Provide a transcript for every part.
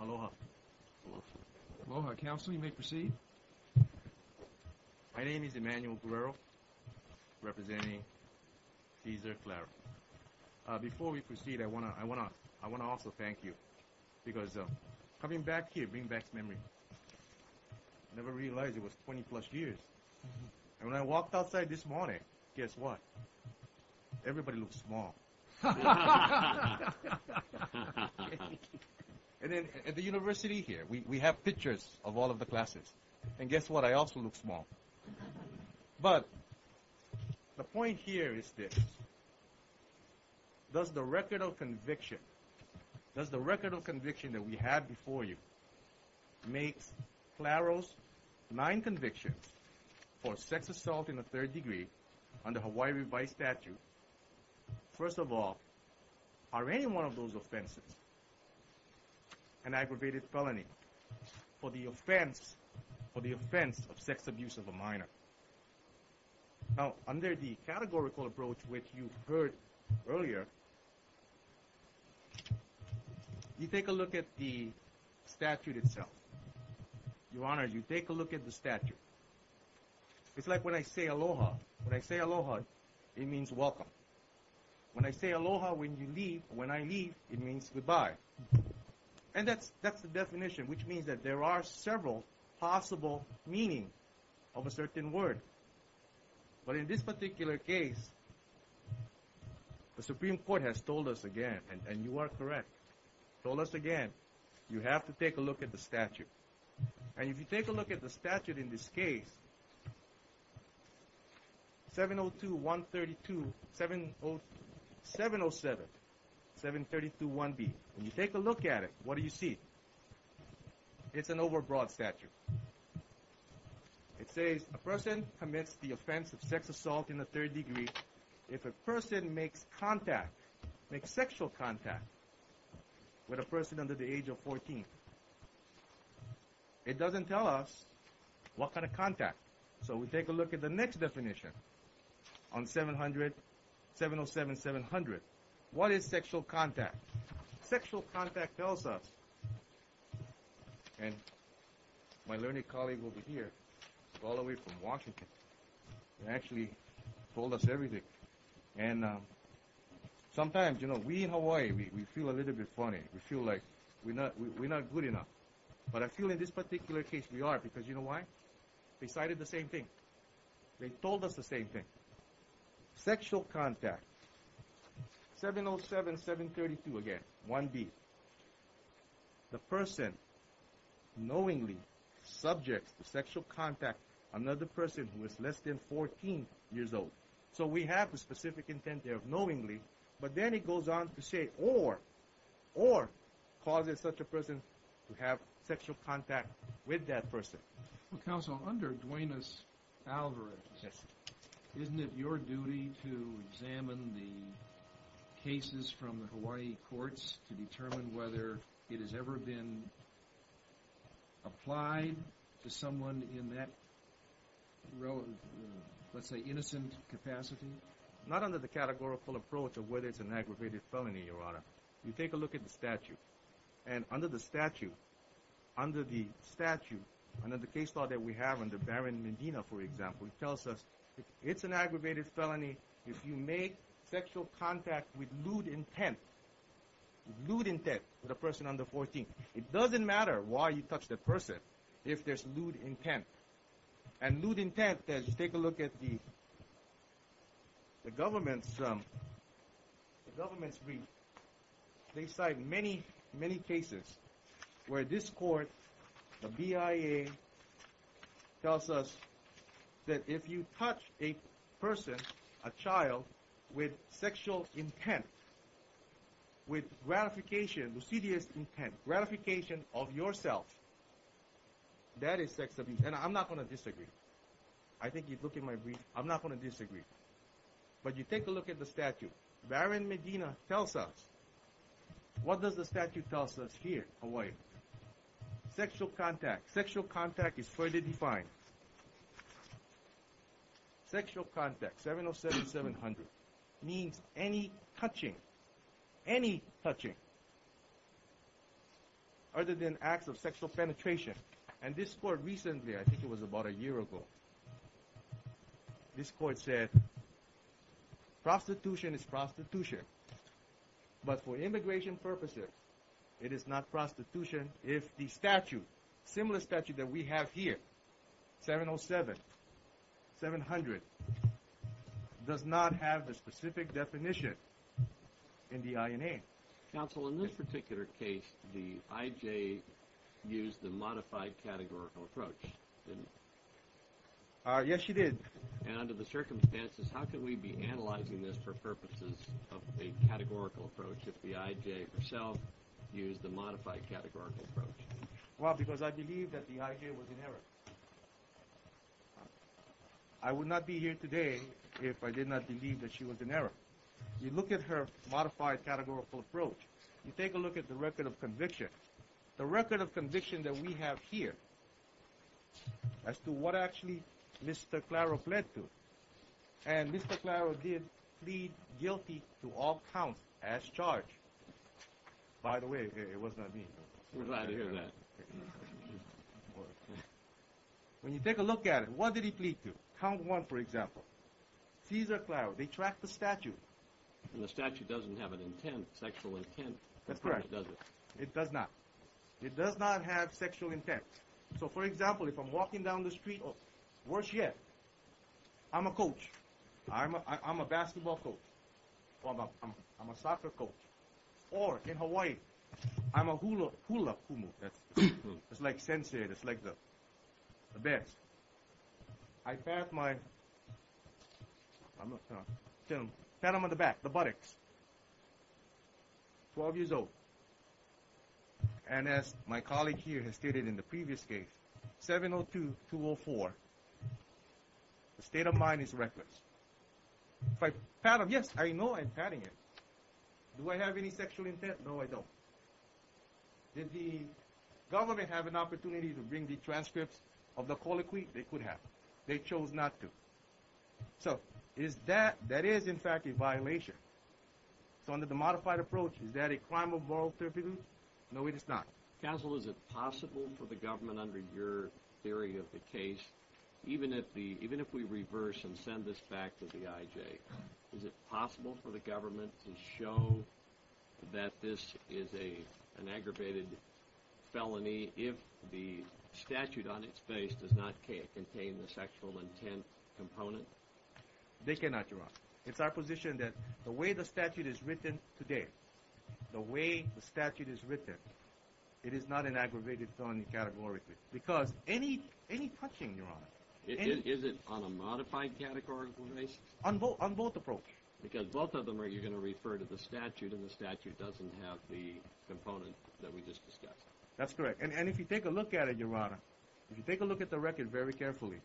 Aloha. Aloha. Aloha. Counsel, you may proceed. My name is Emanuel Guerrero, representing Keisler-Clararo. Before we proceed, I want to also thank you, because coming back here brings back memories. I never realized it was 20-plus years. And when I walked outside this morning, guess what? Everybody looks small. At the university here, we have pictures of all of the classes. And guess what? I also look small. But the point here is this. Does the record of conviction that we had before you makes Claro's nine convictions for sex assault in the third degree under Hawaii Revised Statute, first of all, are any one of those offenses an aggravated felony for the offense of sex abuse of a minor? Now, under the categorical approach which you heard earlier, you take a look at the statute itself. Your Honor, you take a look at the statute. It's like when I say aloha. When I say aloha, it means welcome. When I say aloha when you leave, when I leave, it means goodbye. And that's the definition, which means that there are several possible meanings of a certain word. But in this particular case, the Supreme Court has told us again, and you are correct, told us again, you have to take a look at the statute. And if you take a look at the statute in this case, 702-132-707, 732-1B. When you take a look at it, what do you see? It's an overbroad statute. It says a person commits the offense of sex assault in the third degree if a person makes contact, makes sexual contact, with a person under the age of 14. It doesn't tell us what kind of contact. So we take a look at the next definition on 707-700. What is sexual contact? Sexual contact tells us, and my learned colleague over here, all the way from Washington, actually told us everything. And sometimes, you know, we in Hawaii, we feel a little bit funny. We feel like we're not good enough. But I feel in this particular case we are because you know why? They cited the same thing. They told us the same thing. Sexual contact. 707-732 again, 1B. The person knowingly subjects to sexual contact another person who is less than 14 years old. So we have the specific intent there of knowingly. But then it goes on to say or. Or causes such a person to have sexual contact with that person. Counsel, under Dwayna's algorithms, isn't it your duty to examine the cases from the Hawaii courts to determine whether it has ever been applied to someone in that, let's say, innocent capacity? Not under the categorical approach of whether it's an aggravated felony, Your Honor. You take a look at the statute. And under the statute, under the statute, under the case law that we have under Baron Medina, for example, it tells us it's an aggravated felony if you make sexual contact with lewd intent. Lewd intent with a person under 14. It doesn't matter why you touch that person if there's lewd intent. And lewd intent, take a look at the government's brief. They cite many, many cases where this court, the BIA, tells us that if you touch a person, a child, with sexual intent, with gratification, lucidius intent, gratification of yourself, that is sex abuse. And I'm not going to disagree. I think you'd look at my brief. I'm not going to disagree. But you take a look at the statute. Baron Medina tells us, what does the statute tell us here, Hawaii? Sexual contact. Sexual contact is further defined. Sexual contact, 707-700, means any touching, any touching, other than acts of sexual penetration. And this court recently, I think it was about a year ago, this court said prostitution is prostitution. But for immigration purposes, it is not prostitution if the statute, similar statute that we have here, 707-700, does not have the specific definition in the INA. Counsel, in this particular case, the IJ used the modified categorical approach, didn't it? Yes, she did. And under the circumstances, how could we be analyzing this for purposes of a categorical approach if the IJ herself used the modified categorical approach? Well, because I believe that the IJ was in error. I would not be here today if I did not believe that she was in error. You look at her modified categorical approach. You take a look at the record of conviction. The record of conviction that we have here as to what actually Mr. Claro pled to, and Mr. Claro did plead guilty to all counts as charged. By the way, it was not me. We're glad to hear that. When you take a look at it, what did he plead to? Count one, for example. Cesar Claro, they track the statute. And the statute doesn't have an intent, sexual intent. That's correct. It doesn't. It does not. It does not have sexual intent. So, for example, if I'm walking down the street, or worse yet, I'm a coach. I'm a basketball coach. I'm a soccer coach. Or, in Hawaii, I'm a hulapumu. It's like sensei. It's like the best. I pat my, pat him on the back, the buttocks. Twelve years old. And as my colleague here has stated in the previous case, 702-204, the state of mind is reckless. If I pat him, yes, I know I'm patting him. Do I have any sexual intent? No, I don't. Did the government have an opportunity to bring the transcripts of the colloquy? They could have. They chose not to. So, is that, that is, in fact, a violation. So, under the modified approach, is that a crime of moral turpitude? No, it is not. Counsel, is it possible for the government, under your theory of the case, even if we reverse and send this back to the IJ, is it possible for the government to show that this is an aggravated felony if the statute on its face does not contain the sexual intent component? They cannot, Your Honor. It's our position that the way the statute is written today, the way the statute is written, it is not an aggravated felony categorically. Because any touching, Your Honor, any... Is it on a modified categorical basis? On both approaches. Because both of them are, you're going to refer to the statute, and the statute doesn't have the component that we just discussed. That's correct. And if you take a look at it, Your Honor, if you take a look at the record very carefully,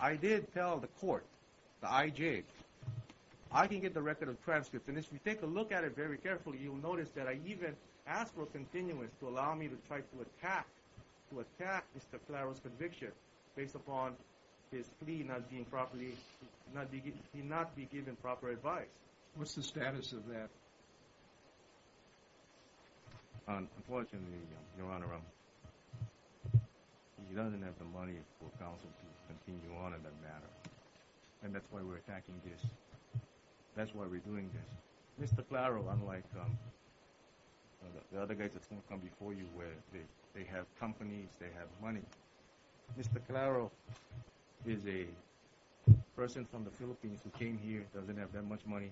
I did tell the court, the IJ, I can get the record of transcripts. And if you take a look at it very carefully, you'll notice that I even asked for a continuance to allow me to try to attack, to attack Mr. Claro's conviction based upon his plea not being properly, not be given proper advice. What's the status of that? Unfortunately, Your Honor, he doesn't have the money for counsel to continue on in that matter. And that's why we're attacking this. That's why we're doing this. Mr. Claro, unlike the other guys that have come before you where they have companies, they have money, Mr. Claro is a person from the Philippines who came here, doesn't have that much money,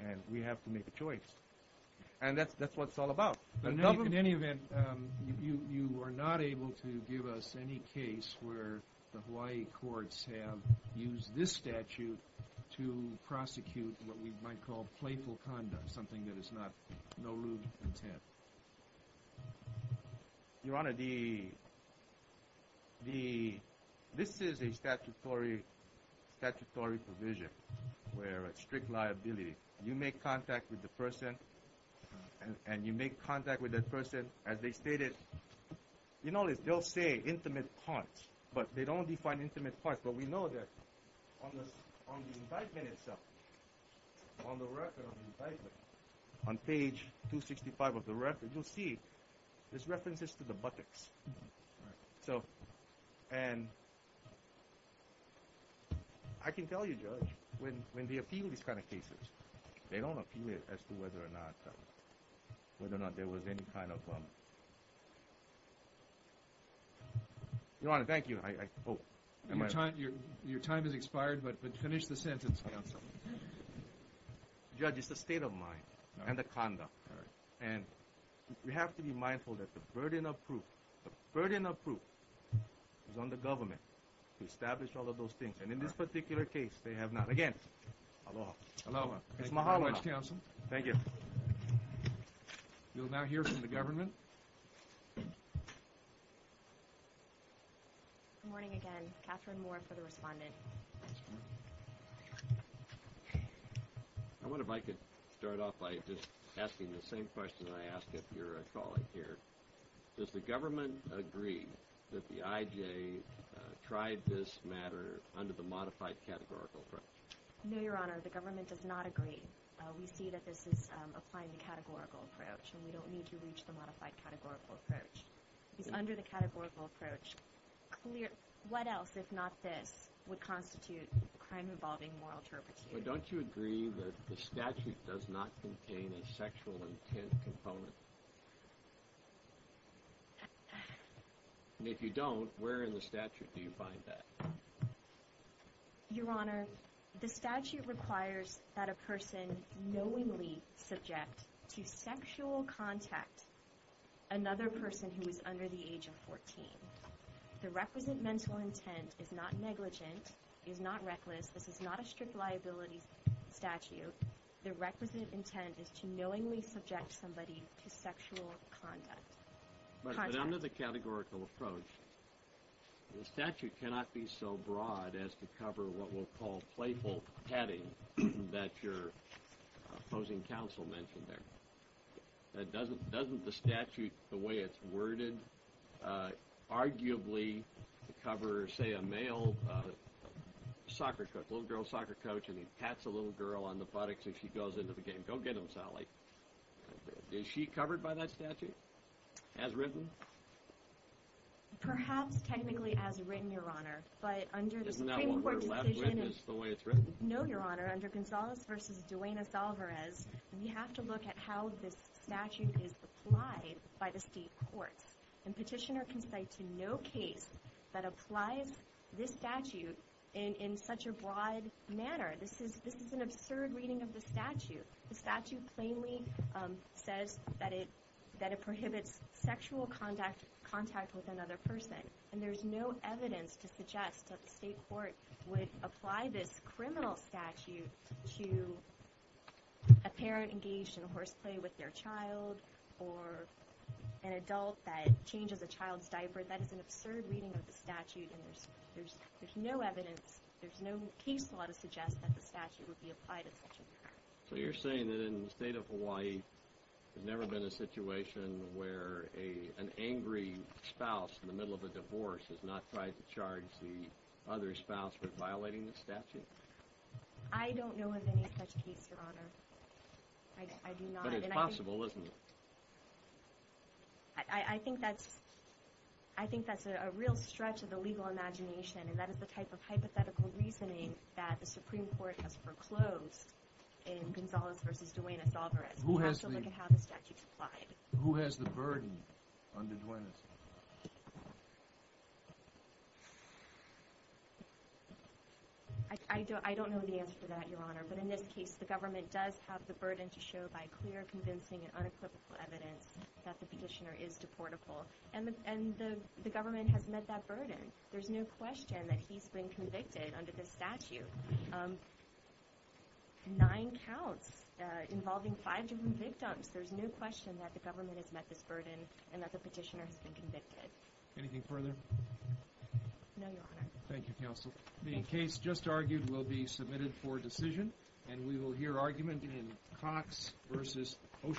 and we have to make a choice. And that's what it's all about. In any event, you are not able to give us any case where the Hawaii courts have used this statute to prosecute what we might call playful conduct, something that is not no-lewd intent. Your Honor, this is a statutory provision where it's strict liability. You make contact with the person, and you make contact with that person as they stated. You'll notice they'll say intimate parts, but they don't define intimate parts. But we know that on the indictment itself, on the record of the indictment, on page 265 of the record, you'll see there's references to the buttocks. And I can tell you, Judge, when they appeal these kind of cases, they don't appeal it as to whether or not there was any kind of bump. Your Honor, thank you. Your time has expired, but finish the sentence, counsel. Judge, it's a state of mind and a conduct. And we have to be mindful that the burden of proof is on the government to establish all of those things. And in this particular case, they have not. Again, aloha. Aloha. Thank you very much, counsel. Thank you. You'll now hear from the government. Good morning again. Catherine Moore for the respondent. I wonder if I could start off by just asking the same question I asked if you're a colleague here. Does the government agree that the IJ tried this matter under the modified categorical approach? No, Your Honor, the government does not agree. We see that this is applying the categorical approach, and we don't need to reach the modified categorical approach. It's under the categorical approach. What else, if not this, would constitute crime involving moral turpitude? Well, don't you agree that the statute does not contain a sexual intent component? And if you don't, where in the statute do you find that? Your Honor, the statute requires that a person knowingly subject to sexual contact another person who is under the age of 14. The representmental intent is not negligent. It is not reckless. This is not a strict liability statute. The representative intent is to knowingly subject somebody to sexual contact. But under the categorical approach, the statute cannot be so broad as to cover what we'll call playful petting that your opposing counsel mentioned there. Doesn't the statute, the way it's worded, arguably cover, say, a male soccer coach, a little girl soccer coach, and he pats a little girl on the buttocks and she goes into the game? Go get them, Sally. Is she covered by that statute as written? Perhaps technically as written, Your Honor, but under the Supreme Court decision— Isn't that what we're left with is the way it's written? No, Your Honor. Under Gonzales v. Duenas-Alvarez, we have to look at how this statute is applied by the state courts. And Petitioner can cite to no case that applies this statute in such a broad manner. This is an absurd reading of the statute. The statute plainly says that it prohibits sexual contact with another person. And there's no evidence to suggest that the state court would apply this criminal statute to a parent engaged in horseplay with their child or an adult that changes a child's diaper. That is an absurd reading of the statute, and there's no evidence, there's no case law to suggest that the statute would be applied in such a manner. So you're saying that in the state of Hawaii, there's never been a situation where an angry spouse in the middle of a divorce has not tried to charge the other spouse with violating the statute? I don't know of any such case, Your Honor. I do not. But it's possible, isn't it? I think that's a real stretch of the legal imagination, and that is the type of hypothetical reasoning that the Supreme Court has foreclosed in Gonzales v. Duenas-Alvarez. We have to look at how the statute's applied. Who has the burden under Duenas-Alvarez? I don't know the answer to that, Your Honor, but in this case the government does have the burden to show by clear, convincing, and unequivocal evidence that the petitioner is deportable. And the government has met that burden. There's no question that he's been convicted under this statute. Nine counts involving five different victims. There's no question that the government has met this burden and that the petitioner has been convicted. Anything further? No, Your Honor. Thank you, Counsel. The case just argued will be submitted for decision, and we will hear argument in Cox v. Oceanside.